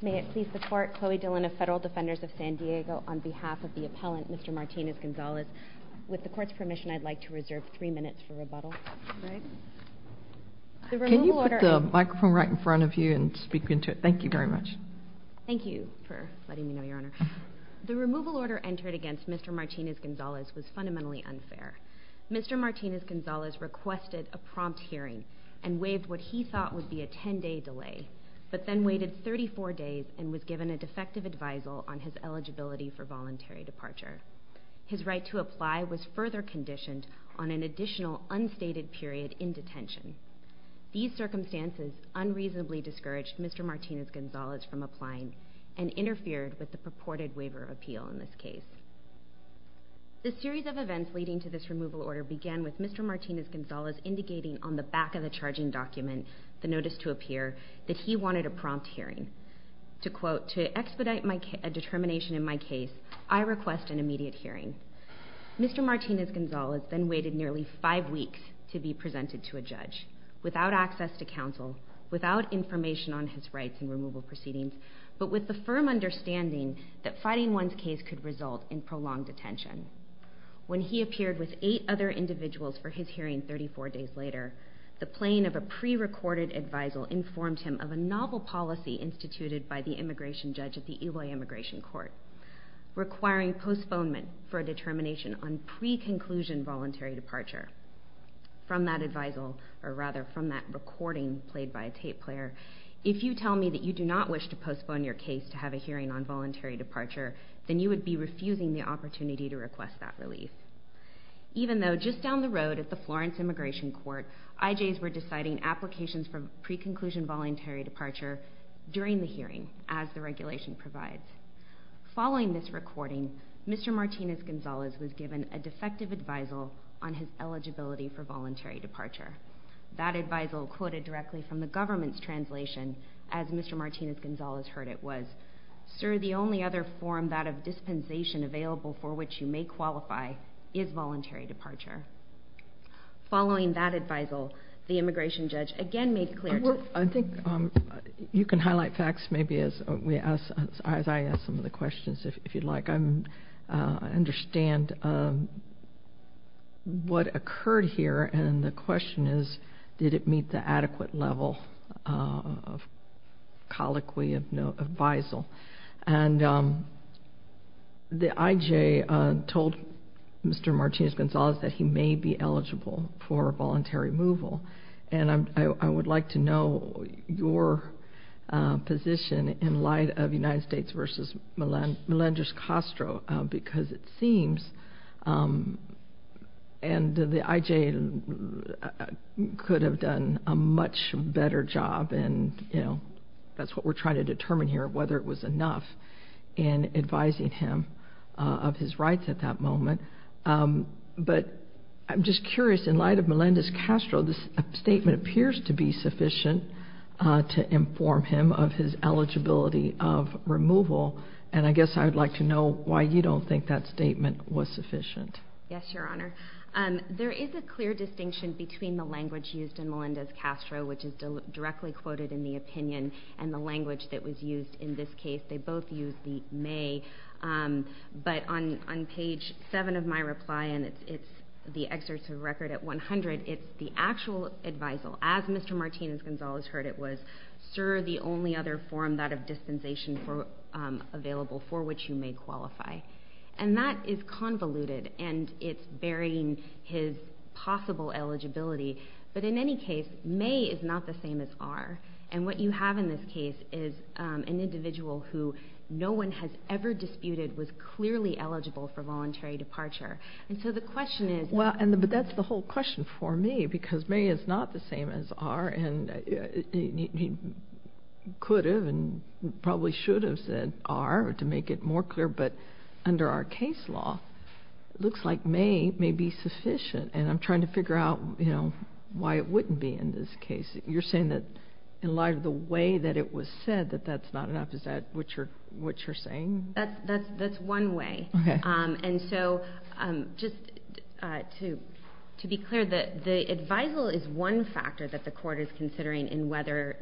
May it please the Court, Chloe Dillon of Federal Defenders of San Diego, on behalf of the appellant, Mr. Martinez-Gonzalez. With the Court's permission, I'd like to reserve three minutes for rebuttal. Can you put the microphone right in front of you and speak into it? Thank you very much. Thank you for letting me know, Your Honor. The removal order entered against Mr. Martinez-Gonzalez was fundamentally unfair. Mr. Martinez-Gonzalez requested a prompt hearing and waived what he thought would be a ten-day delay. But then waited 34 days and was given a defective advisal on his eligibility for voluntary departure. His right to apply was further conditioned on an additional unstated period in detention. These circumstances unreasonably discouraged Mr. Martinez-Gonzalez from applying and interfered with the purported waiver of appeal in this case. The series of events leading to this removal order began with Mr. Martinez-Gonzalez indicating on the back of the charging document, the notice to appear, that he wanted a prompt hearing. To quote, to expedite a determination in my case, I request an immediate hearing. Mr. Martinez-Gonzalez then waited nearly five weeks to be presented to a judge, without access to counsel, without information on his rights and removal proceedings, but with the firm understanding that fighting one's case could result in prolonged detention. When he appeared with eight other individuals for his hearing 34 days later, the playing of a prerecorded advisal informed him of a novel policy instituted by the immigration judge at the Illinois Immigration Court, requiring postponement for a determination on pre-conclusion voluntary departure. From that recording played by a tape player, if you tell me that you do not wish to postpone your case to have a hearing on voluntary departure, then you would be refusing the opportunity to request that relief. Even though, just down the road at the Florence Immigration Court, IJs were deciding applications for pre-conclusion voluntary departure during the hearing, as the regulation provides. Following this recording, Mr. Martinez-Gonzalez was given a defective advisal on his eligibility for voluntary departure. That advisal, quoted directly from the government's translation, as Mr. Martinez-Gonzalez heard it was, Sir, the only other form that of dispensation available for which you may qualify is voluntary departure. Following that advisal, the immigration judge again made clear to- I think you can highlight facts maybe as I ask some of the questions, if you'd like. I understand what occurred here, and the question is, did it meet the adequate level of colloquy of advisal? And the IJ told Mr. Martinez-Gonzalez that he may be eligible for voluntary removal, and I would like to know your position in light of United States v. Melendez-Castro, because it seems- he should have done a much better job, and that's what we're trying to determine here, whether it was enough in advising him of his rights at that moment. But I'm just curious, in light of Melendez-Castro, this statement appears to be sufficient to inform him of his eligibility of removal, and I guess I would like to know why you don't think that statement was sufficient. Yes, Your Honor. There is a clear distinction between the language used in Melendez-Castro, which is directly quoted in the opinion, and the language that was used in this case. They both used the may, but on page 7 of my reply, and it's the excerpt of record at 100, it's the actual advisal, as Mr. Martinez-Gonzalez heard it was, sir, the only other form that of dispensation available for which you may qualify. And that is convoluted, and it's burying his possible eligibility. But in any case, may is not the same as are. And what you have in this case is an individual who no one has ever disputed was clearly eligible for voluntary departure. And so the question is- Well, but that's the whole question for me, because may is not the same as are, and he could have and probably should have said are to make it more clear, but under our case law, it looks like may may be sufficient, and I'm trying to figure out why it wouldn't be in this case. You're saying that in light of the way that it was said that that's not enough? Is that what you're saying? That's one way. And so just to be clear, the advisal is one factor that the court is considering in whether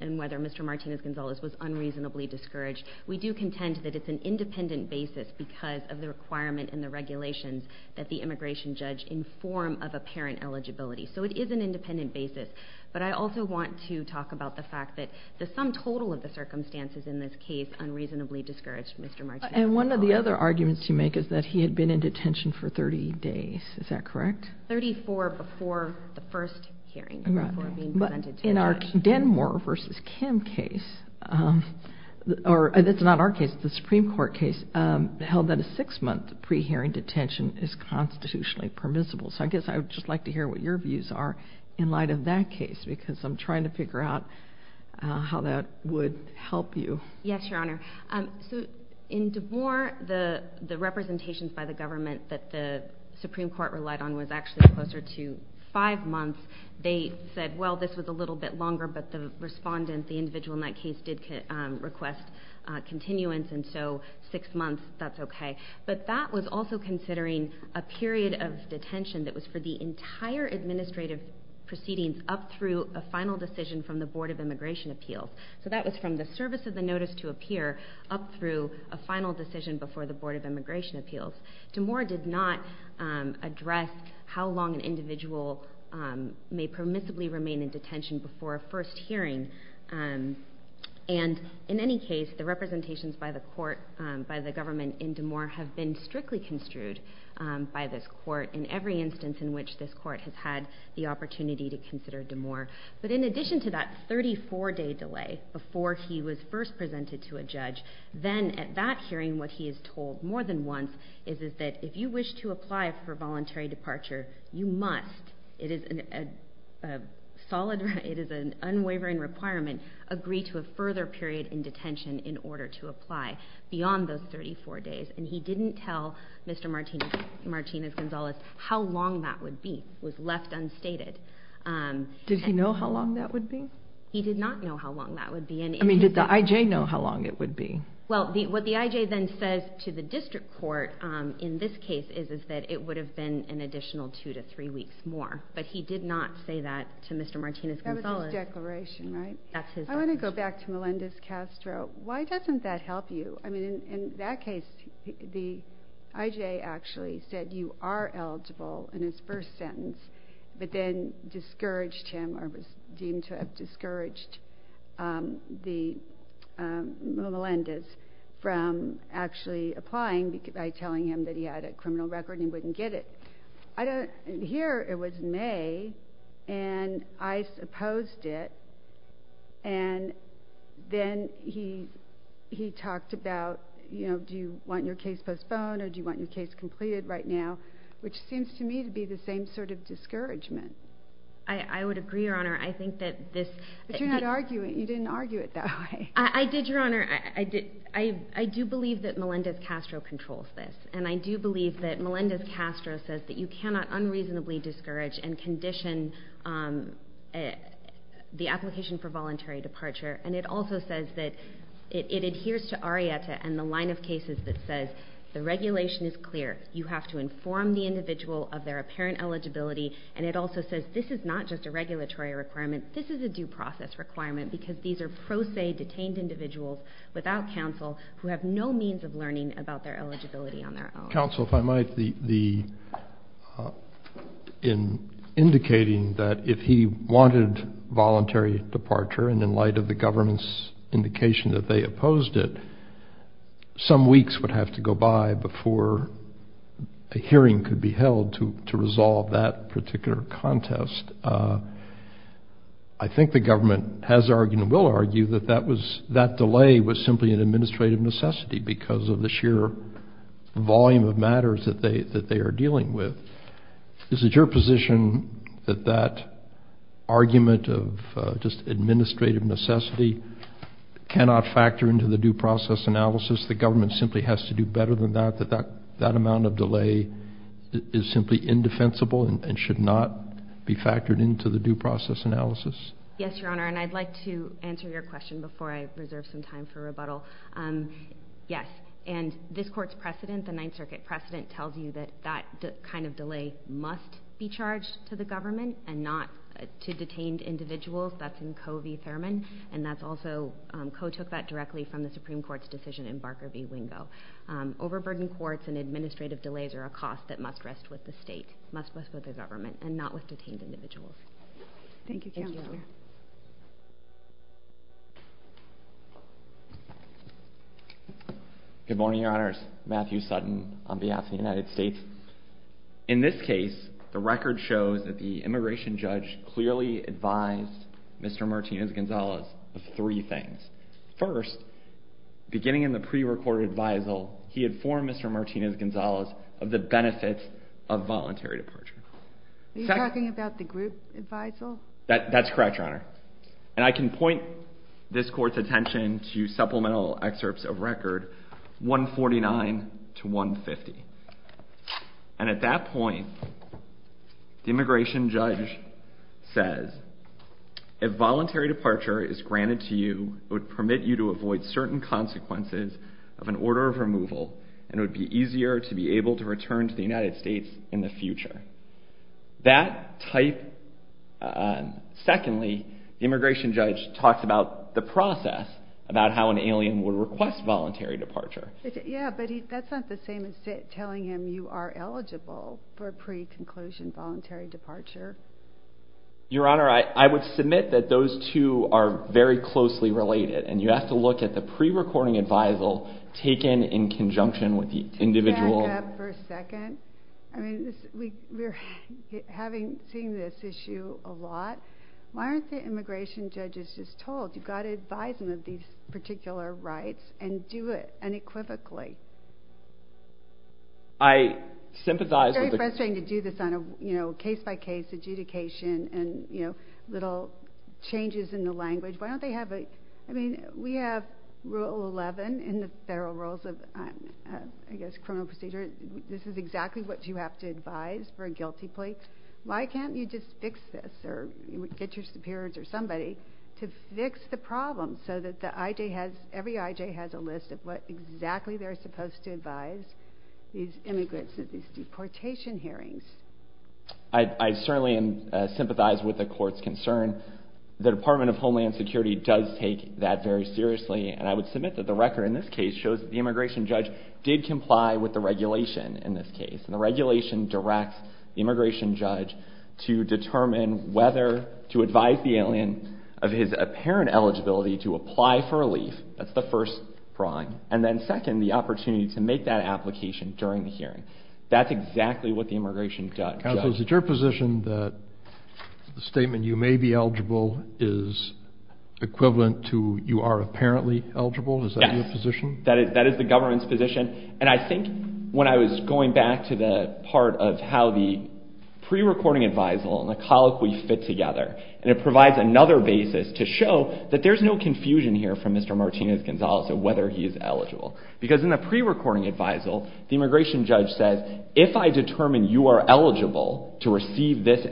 Mr. Martinez-Gonzalez was unreasonably discouraged. We do contend that it's an independent basis because of the requirement in the regulations that the immigration judge inform of apparent eligibility. So it is an independent basis, but I also want to talk about the fact that the sum total of the circumstances in this case unreasonably discouraged Mr. Martinez-Gonzalez. And one of the other arguments you make is that he had been in detention for 30 days. Is that correct? Thirty-four before the first hearing, before being presented to the judge. But in our Denmore v. Kim case, or that's not our case, the Supreme Court case, held that a six-month pre-hearing detention is constitutionally permissible. So I guess I would just like to hear what your views are in light of that case, because I'm trying to figure out how that would help you. Yes, Your Honor. So in Denmore, the representations by the government that the Supreme Court relied on was actually closer to five months. They said, well, this was a little bit longer, but the respondent, the individual in that case, did request continuance, and so six months, that's okay. But that was also considering a period of detention that was for the entire administrative proceedings up through a final decision from the Board of Immigration Appeals. So that was from the service of the notice to appear up through a final decision before the Board of Immigration Appeals. Denmore did not address how long an individual may permissibly remain in detention before a first hearing, and in any case, the representations by the court, by the government in Denmore, have been strictly construed by this court in every instance in which this court has had the opportunity to consider Denmore. But in addition to that 34-day delay before he was first presented to a judge, then at that hearing, what he is told more than once is that if you wish to apply for voluntary departure, you must, it is an unwavering requirement, agree to a further period in detention in order to apply beyond those 34 days. And he didn't tell Mr. Martinez-Gonzalez how long that would be. It was left unstated. Did he know how long that would be? He did not know how long that would be. I mean, did the IJ know how long it would be? Well, what the IJ then says to the district court in this case is that it would have been an additional two to three weeks more, but he did not say that to Mr. Martinez-Gonzalez. That was his declaration, right? That's his declaration. I want to go back to Melendez-Castro. Why doesn't that help you? I mean, in that case, the IJ actually said you are eligible in his first sentence, but then discouraged him or was deemed to have discouraged Melendez from actually applying by telling him that he had a criminal record and he wouldn't get it. Here, it was May, and I opposed it, and then he talked about, you know, do you want your case postponed or do you want your case completed right now, which seems to me to be the same sort of discouragement. I would agree, Your Honor. I think that this... But you're not arguing. You didn't argue it that way. I did, Your Honor. I do believe that Melendez-Castro controls this, and I do believe that Melendez-Castro says that you cannot unreasonably discourage and condition the application for voluntary departure, and it also says that it adheres to ARIETA and the line of cases that says the regulation is clear. You have to inform the individual of their apparent eligibility, and it also says this is not just a regulatory requirement. This is a due process requirement because these are pro se detained individuals without counsel who have no means of learning about their eligibility on their own. Counsel, if I might, in indicating that if he wanted voluntary departure, and in light of the government's indication that they opposed it, that some weeks would have to go by before a hearing could be held to resolve that particular contest, I think the government has argued and will argue that that delay was simply an administrative necessity because of the sheer volume of matters that they are dealing with. Is it your position that that argument of just administrative necessity cannot factor into the due process analysis? The government simply has to do better than that, that that amount of delay is simply indefensible and should not be factored into the due process analysis? Yes, Your Honor, and I'd like to answer your question before I reserve some time for rebuttal. Yes, and this Court's precedent, the Ninth Circuit precedent, tells you that that kind of delay must be charged to the government and not to detained individuals. That's in Coe v. Thurman, and that's also, Coe took that directly from the Supreme Court's decision in Barker v. Wingo. Overburdened courts and administrative delays are a cost that must rest with the state, must rest with the government, and not with detained individuals. Thank you, Counselor. Good morning, Your Honors. Matthew Sutton on behalf of the United States. In this case, the record shows that the immigration judge clearly advised Mr. Martinez-Gonzalez of three things. First, beginning in the prerecorded advisal, he informed Mr. Martinez-Gonzalez of the benefits of voluntary departure. Are you talking about the group advisal? That's correct, Your Honor. And I can point this Court's attention to supplemental excerpts of record 149 to 150. And at that point, the immigration judge says, if voluntary departure is granted to you, it would permit you to avoid certain consequences of an order of removal, and it would be easier to be able to return to the United States in the future. That type... Secondly, the immigration judge talks about the process, about how an alien would request voluntary departure. Yeah, but that's not the same as telling him you are eligible for pre-conclusion voluntary departure. Your Honor, I would submit that those two are very closely related, and you have to look at the prerecording advisal taken in conjunction with the individual... Back up for a second. I mean, we're having seen this issue a lot. Why aren't the immigration judges just told, you've got to advise them of these particular rights and do it unequivocally? I sympathize with the... It's very frustrating to do this on a case-by-case adjudication and little changes in the language. Why don't they have a... I mean, we have Rule 11 in the federal rules of, I guess, criminal procedure. This is exactly what you have to advise for a guilty plea. Why can't you just fix this or get your superiors or somebody to fix the problem so that every IJ has a list of what exactly they're supposed to advise these immigrants at these deportation hearings? I certainly sympathize with the court's concern. The Department of Homeland Security does take that very seriously, and I would submit that the record in this case shows that the immigration judge did comply with the regulation in this case, and the regulation directs the immigration judge to determine whether to advise the alien of his apparent eligibility to apply for a leave. That's the first drawing. And then second, the opportunity to make that application during the hearing. That's exactly what the immigration judge does. Counsel, is it your position that the statement, you may be eligible, is equivalent to you are apparently eligible? Yes. Is that your position? That is the government's position, and I think when I was going back to the part of how the pre-recording advisal and the colloquy fit together, and it provides another basis to show that there's no confusion here from Mr. Martinez-Gonzalez of whether he is eligible. Because in the pre-recording advisal, the immigration judge says, if I determine you are eligible to receive this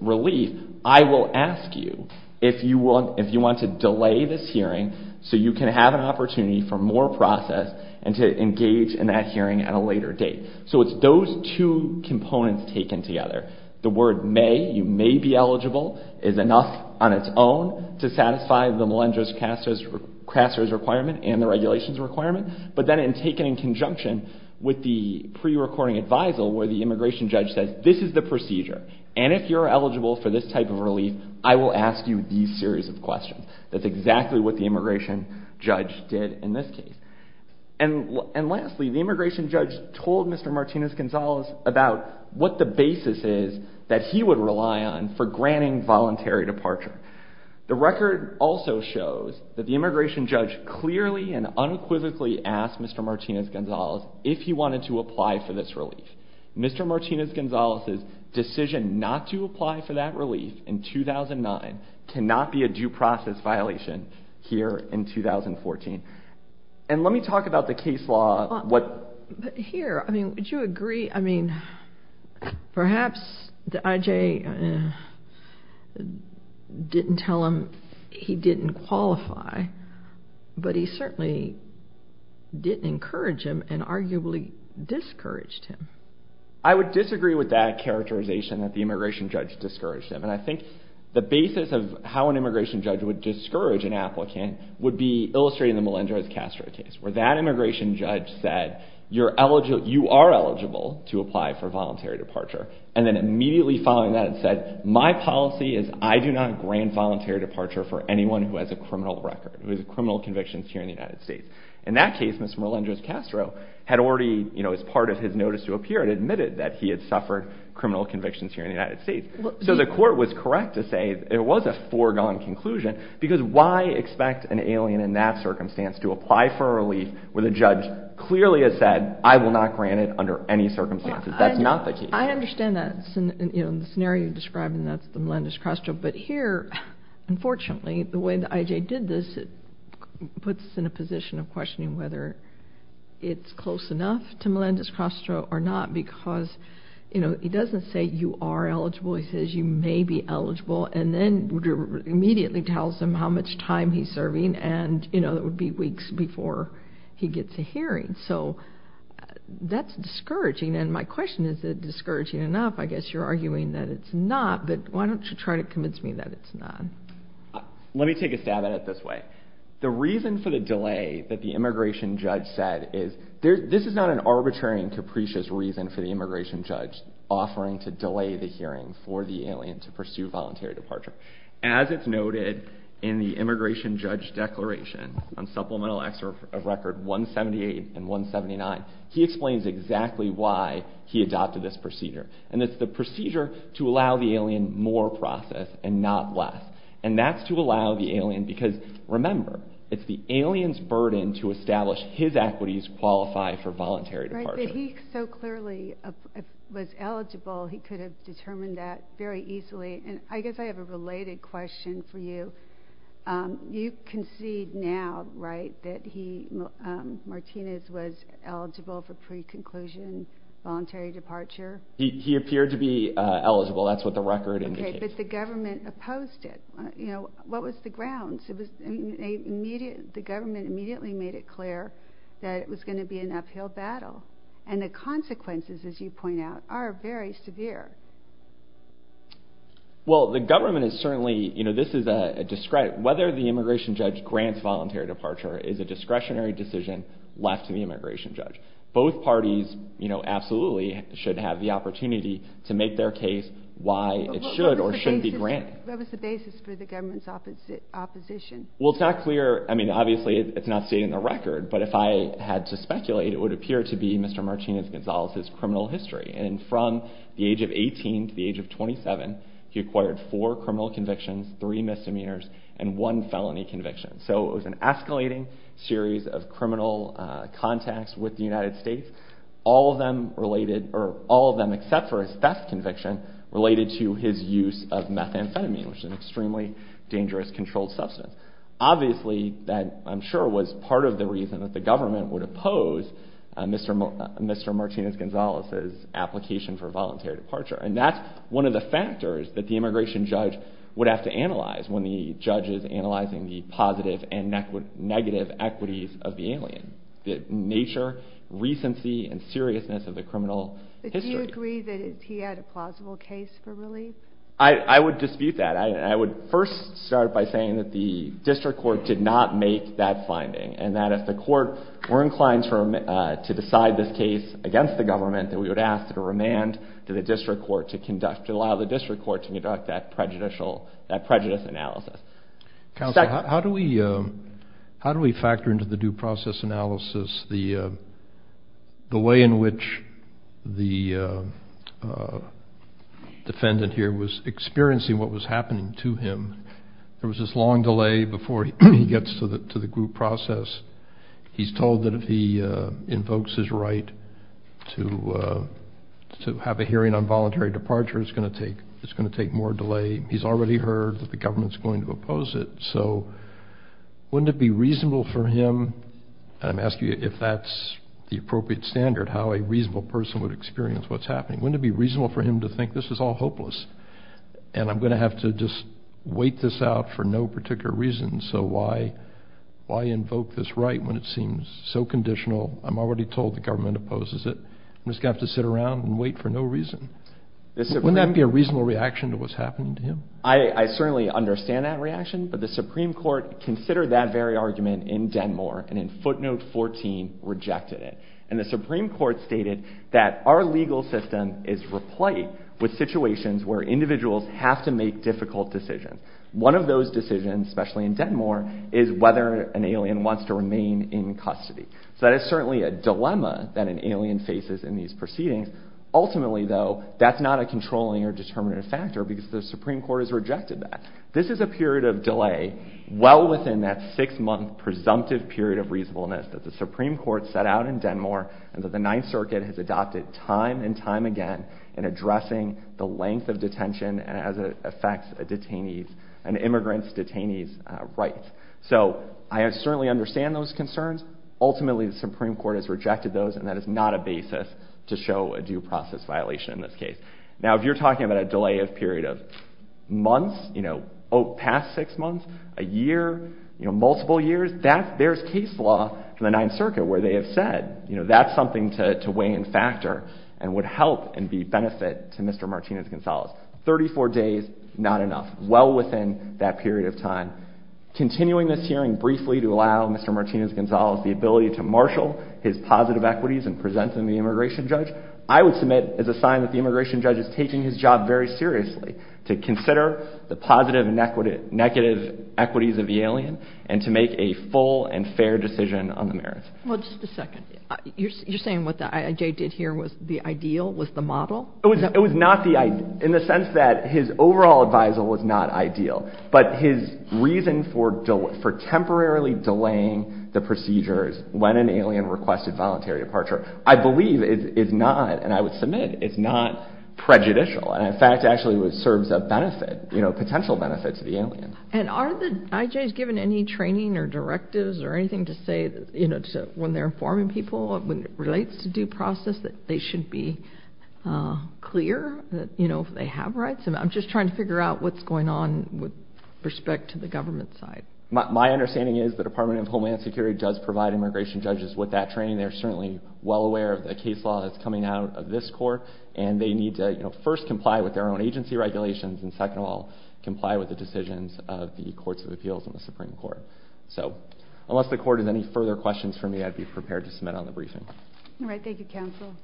relief, I will ask you if you want to delay this hearing so you can have an opportunity for more process and to engage in that hearing at a later date. So it's those two components taken together. The word may, you may be eligible, is enough on its own to satisfy the Melendrez-Castro's requirement and the regulations requirement. But then taken in conjunction with the pre-recording advisal where the immigration judge says, this is the procedure, and if you're eligible for this type of relief, I will ask you these series of questions. That's exactly what the immigration judge did in this case. And lastly, the immigration judge told Mr. Martinez-Gonzalez about what the basis is that he would rely on for granting voluntary departure. The record also shows that the immigration judge clearly and unequivocally asked Mr. Martinez-Gonzalez if he wanted to apply for this relief. Mr. Martinez-Gonzalez's decision not to apply for that relief in 2009 cannot be a due process violation here in 2014. And let me talk about the case law. But here, I mean, would you agree, I mean, perhaps the IJ didn't tell him he didn't qualify, but he certainly didn't encourage him and arguably discouraged him. I would disagree with that characterization that the immigration judge discouraged him. And I think the basis of how an immigration judge would discourage an applicant would be illustrated in the Melendrez-Castro case, where that immigration judge said, you are eligible to apply for voluntary departure, and then immediately following that said, my policy is I do not grant voluntary departure for anyone who has a criminal record, who has criminal convictions here in the United States. In that case, Mr. Melendrez-Castro had already, as part of his notice to appear, admitted that he had suffered criminal convictions here in the United States. So the court was correct to say it was a foregone conclusion, because why expect an alien in that circumstance to apply for a relief where the judge clearly has said, I will not grant it under any circumstances. That's not the case. I understand that. In the scenario you're describing, that's the Melendrez-Castro. But here, unfortunately, the way the IJ did this, it puts us in a position of questioning whether it's close enough to Melendrez-Castro or not, because he doesn't say you are eligible. He says you may be eligible, and then immediately tells him how much time he's serving, and it would be weeks before he gets a hearing. So that's discouraging. And my question is, is it discouraging enough? I guess you're arguing that it's not, but why don't you try to convince me that it's not. Let me take a stab at it this way. The reason for the delay that the immigration judge said is, this is not an arbitrary and capricious reason for the immigration judge offering to delay the hearing for the alien to pursue voluntary departure. As it's noted in the immigration judge declaration on supplemental acts of record 178 and 179, he explains exactly why he adopted this procedure. And it's the procedure to allow the alien more process and not less. And that's to allow the alien, because remember, it's the alien's burden to establish his equities qualify for voluntary departure. If he so clearly was eligible, he could have determined that very easily. And I guess I have a related question for you. You concede now, right, that Martinez was eligible for pre-conclusion voluntary departure? He appeared to be eligible. That's what the record indicates. Okay, but the government opposed it. What was the grounds? The government immediately made it clear that it was going to be an uphill battle. And the consequences, as you point out, are very severe. Well, the government is certainly, you know, this is a discredit. Whether the immigration judge grants voluntary departure is a discretionary decision left to the immigration judge. Both parties, you know, absolutely should have the opportunity to make their case why it should or shouldn't be granted. What was the basis for the government's opposition? Well, it's not clear. I mean, obviously, it's not stated in the record. But if I had to speculate, it would appear to be Mr. Martinez Gonzalez's criminal history. And from the age of 18 to the age of 27, he acquired four criminal convictions, three misdemeanors, and one felony conviction. So it was an escalating series of criminal contacts with the United States, all of them except for his theft conviction related to his use of methamphetamine, which is an extremely dangerous controlled substance. Obviously, that I'm sure was part of the reason that the government would oppose Mr. Martinez Gonzalez's application for voluntary departure. And that's one of the factors that the immigration judge would have to analyze when the judge is analyzing the positive and negative equities of the alien, the nature, recency, and seriousness of the criminal history. But do you agree that he had a plausible case for relief? I would dispute that. I would first start by saying that the district court did not make that finding and that if the court were inclined to decide this case against the government, that we would ask that a remand to the district court to allow the district court to conduct that prejudice analysis. Counsel, how do we factor into the due process analysis the way in which the defendant here was experiencing what was happening to him? There was this long delay before he gets to the group process. He's told that if he invokes his right to have a hearing on voluntary departure, it's going to take more delay. He's already heard that the government's going to oppose it. So wouldn't it be reasonable for him, and I'm asking you if that's the appropriate standard, how a reasonable person would experience what's happening. Wouldn't it be reasonable for him to think this is all hopeless and I'm going to have to just wait this out for no particular reason, so why invoke this right when it seems so conditional? I'm already told the government opposes it. I'm just going to have to sit around and wait for no reason. Wouldn't that be a reasonable reaction to what's happening to him? I certainly understand that reaction, but the Supreme Court considered that very argument in Denmark and in footnote 14 rejected it. And the Supreme Court stated that our legal system is replete with situations where individuals have to make difficult decisions. One of those decisions, especially in Denmark, is whether an alien wants to remain in custody. So that is certainly a dilemma that an alien faces in these proceedings. Ultimately, though, that's not a controlling or determinative factor because the Supreme Court has rejected that. This is a period of delay well within that six-month presumptive period of reasonableness that the Supreme Court set out in Denmark and that the Ninth Circuit has adopted time and time again in addressing the length of detention as it affects an immigrant's detainee's rights. So I certainly understand those concerns. Ultimately, the Supreme Court has rejected those and that is not a basis to show a due process violation in this case. Now, if you're talking about a delay of a period of months, past six months, a year, multiple years, there's case law in the Ninth Circuit where they have said that's something to weigh and factor and would help and be a benefit to Mr. Martinez-Gonzalez. Thirty-four days, not enough. Well within that period of time. Continuing this hearing briefly to allow Mr. Martinez-Gonzalez the ability to marshal his positive equities and present them to the immigration judge, I would submit as a sign that the immigration judge is taking his job very seriously to consider the positive and negative equities of the alien and to make a full and fair decision on the merits. Well, just a second. You're saying what the IJ did here was the ideal, was the model? It was not the ideal in the sense that his overall advisal was not ideal, but his reason for temporarily delaying the procedures when an alien requested voluntary departure, I believe is not, and I would submit, is not prejudicial and in fact actually serves a benefit, a potential benefit to the alien. And are the IJs given any training or directives or anything to say when they're informing people when it relates to due process that they should be clear that they have rights? I'm just trying to figure out what's going on with respect to the government side. My understanding is the Department of Homeland Security does provide immigration judges with that training. They're certainly well aware of the case law that's coming out of this court, and they need to first comply with their own agency regulations and second of all, comply with the decisions of the Courts of Appeals and the Supreme Court. So unless the Court has any further questions for me, I'd be prepared to submit on the briefing. All right. Thank you, Counsel.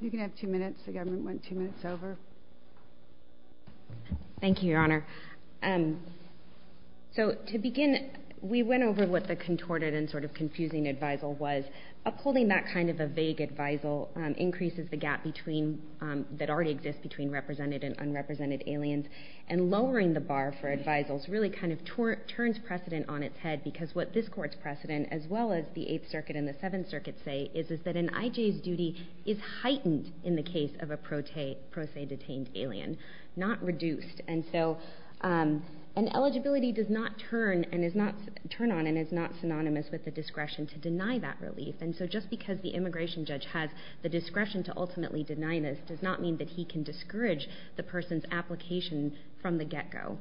You can have two minutes. The government went two minutes over. Thank you, Your Honor. So to begin, we went over what the contorted and sort of confusing advisal was. Upholding that kind of a vague advisal increases the gap that already exists between represented and unrepresented aliens, and lowering the bar for advisals really kind of turns precedent on its head because what this Court's precedent, as well as the Eighth Circuit and the Seventh Circuit say, is that an IJ's duty is heightened in the case of a pro se detained alien, not reduced. And so an eligibility does not turn on and is not synonymous with the discretion to deny that relief. And so just because the immigration judge has the discretion to ultimately deny this does not mean that he can discourage the person's application from the get-go.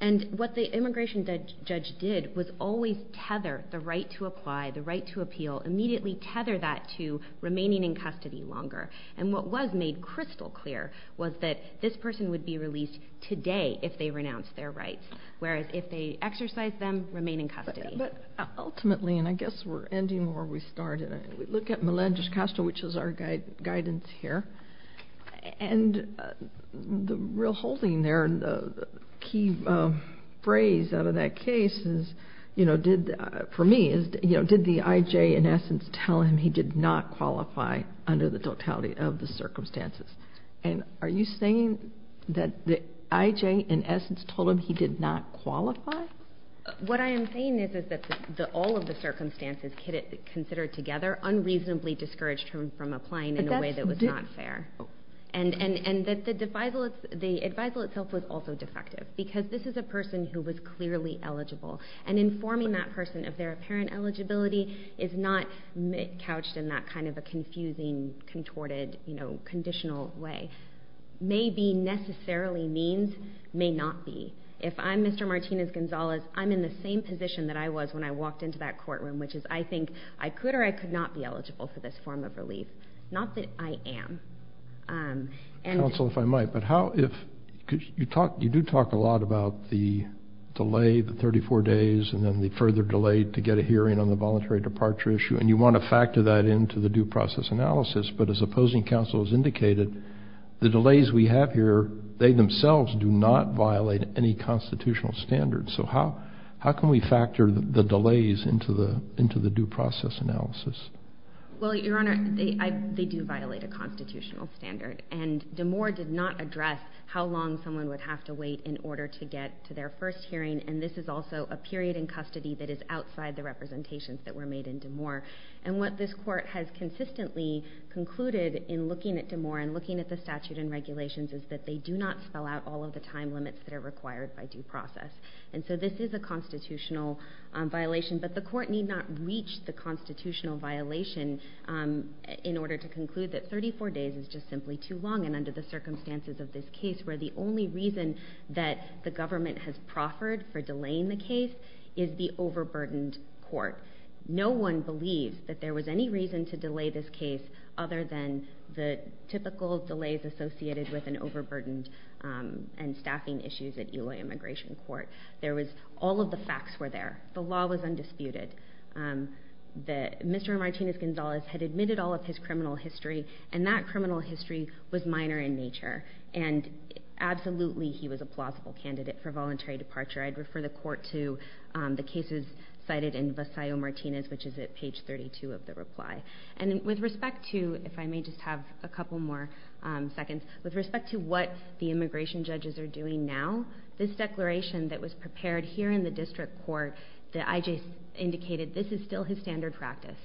And what the immigration judge did was always tether the right to apply, the right to appeal, immediately tether that to remaining in custody longer. And what was made crystal clear was that this person would be released today if they renounced their rights, whereas if they exercised them, remain in custody. But ultimately, and I guess we're ending where we started, we look at Melendez-Castro, which is our guidance here, and the real holding there and the key phrase out of that case is, for me, did the IJ in essence tell him he did not qualify under the totality of the circumstances? And are you saying that the IJ in essence told him he did not qualify? What I am saying is that all of the circumstances considered together unreasonably discouraged him from applying in a way that was not fair. And that the advisal itself was also defective because this is a person who was clearly eligible, and informing that person of their apparent eligibility is not couched in that kind of a confusing, contorted, conditional way. May be necessarily means, may not be. If I'm Mr. Martinez-Gonzalez, I'm in the same position that I was when I walked into that courtroom, which is I think I could or I could not be eligible for this form of relief. Not that I am. Counsel, if I might, but how if you do talk a lot about the delay, the 34 days, and then the further delay to get a hearing on the voluntary departure issue, and you want to factor that into the due process analysis, but as opposing counsel has indicated, the delays we have here, they themselves do not violate any constitutional standards. So how can we factor the delays into the due process analysis? Well, Your Honor, they do violate a constitutional standard. And DeMore did not address how long someone would have to wait in order to get to their first hearing, and this is also a period in custody that is outside the representations that were made in DeMore. And what this court has consistently concluded in looking at DeMore and looking at the statute and regulations is that they do not spell out all of the time limits that are required by due process. And so this is a constitutional violation, but the court need not reach the constitutional violation in order to conclude that 34 days is just simply too long, and under the circumstances of this case where the only reason that the government has proffered for delaying the case is the overburdened court. No one believes that there was any reason to delay this case other than the typical delays associated with an overburdened and staffing issues at Eloy Immigration Court. All of the facts were there. The law was undisputed. Mr. Martinez-Gonzalez had admitted all of his criminal history, and that criminal history was minor in nature, and absolutely he was a plausible candidate for voluntary departure. I'd refer the court to the cases cited in Visayo-Martinez, which is at page 32 of the reply. And with respect to, if I may just have a couple more seconds, with respect to what the immigration judges are doing now, this declaration that was prepared here in the district court that I.J. indicated this is still his standard practice,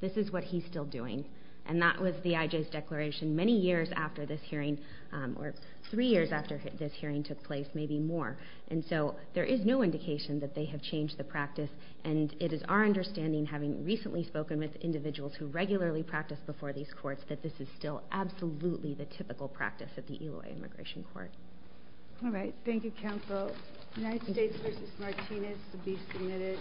this is what he's still doing, and that was the I.J.'s declaration many years after this hearing, or three years after this hearing took place, maybe more. And so there is no indication that they have changed the practice, and it is our understanding, having recently spoken with individuals who regularly practice before these courts, that this is still absolutely the typical practice at the Eloy Immigration Court. All right. Thank you, counsel. United States v. Martinez to be submitted.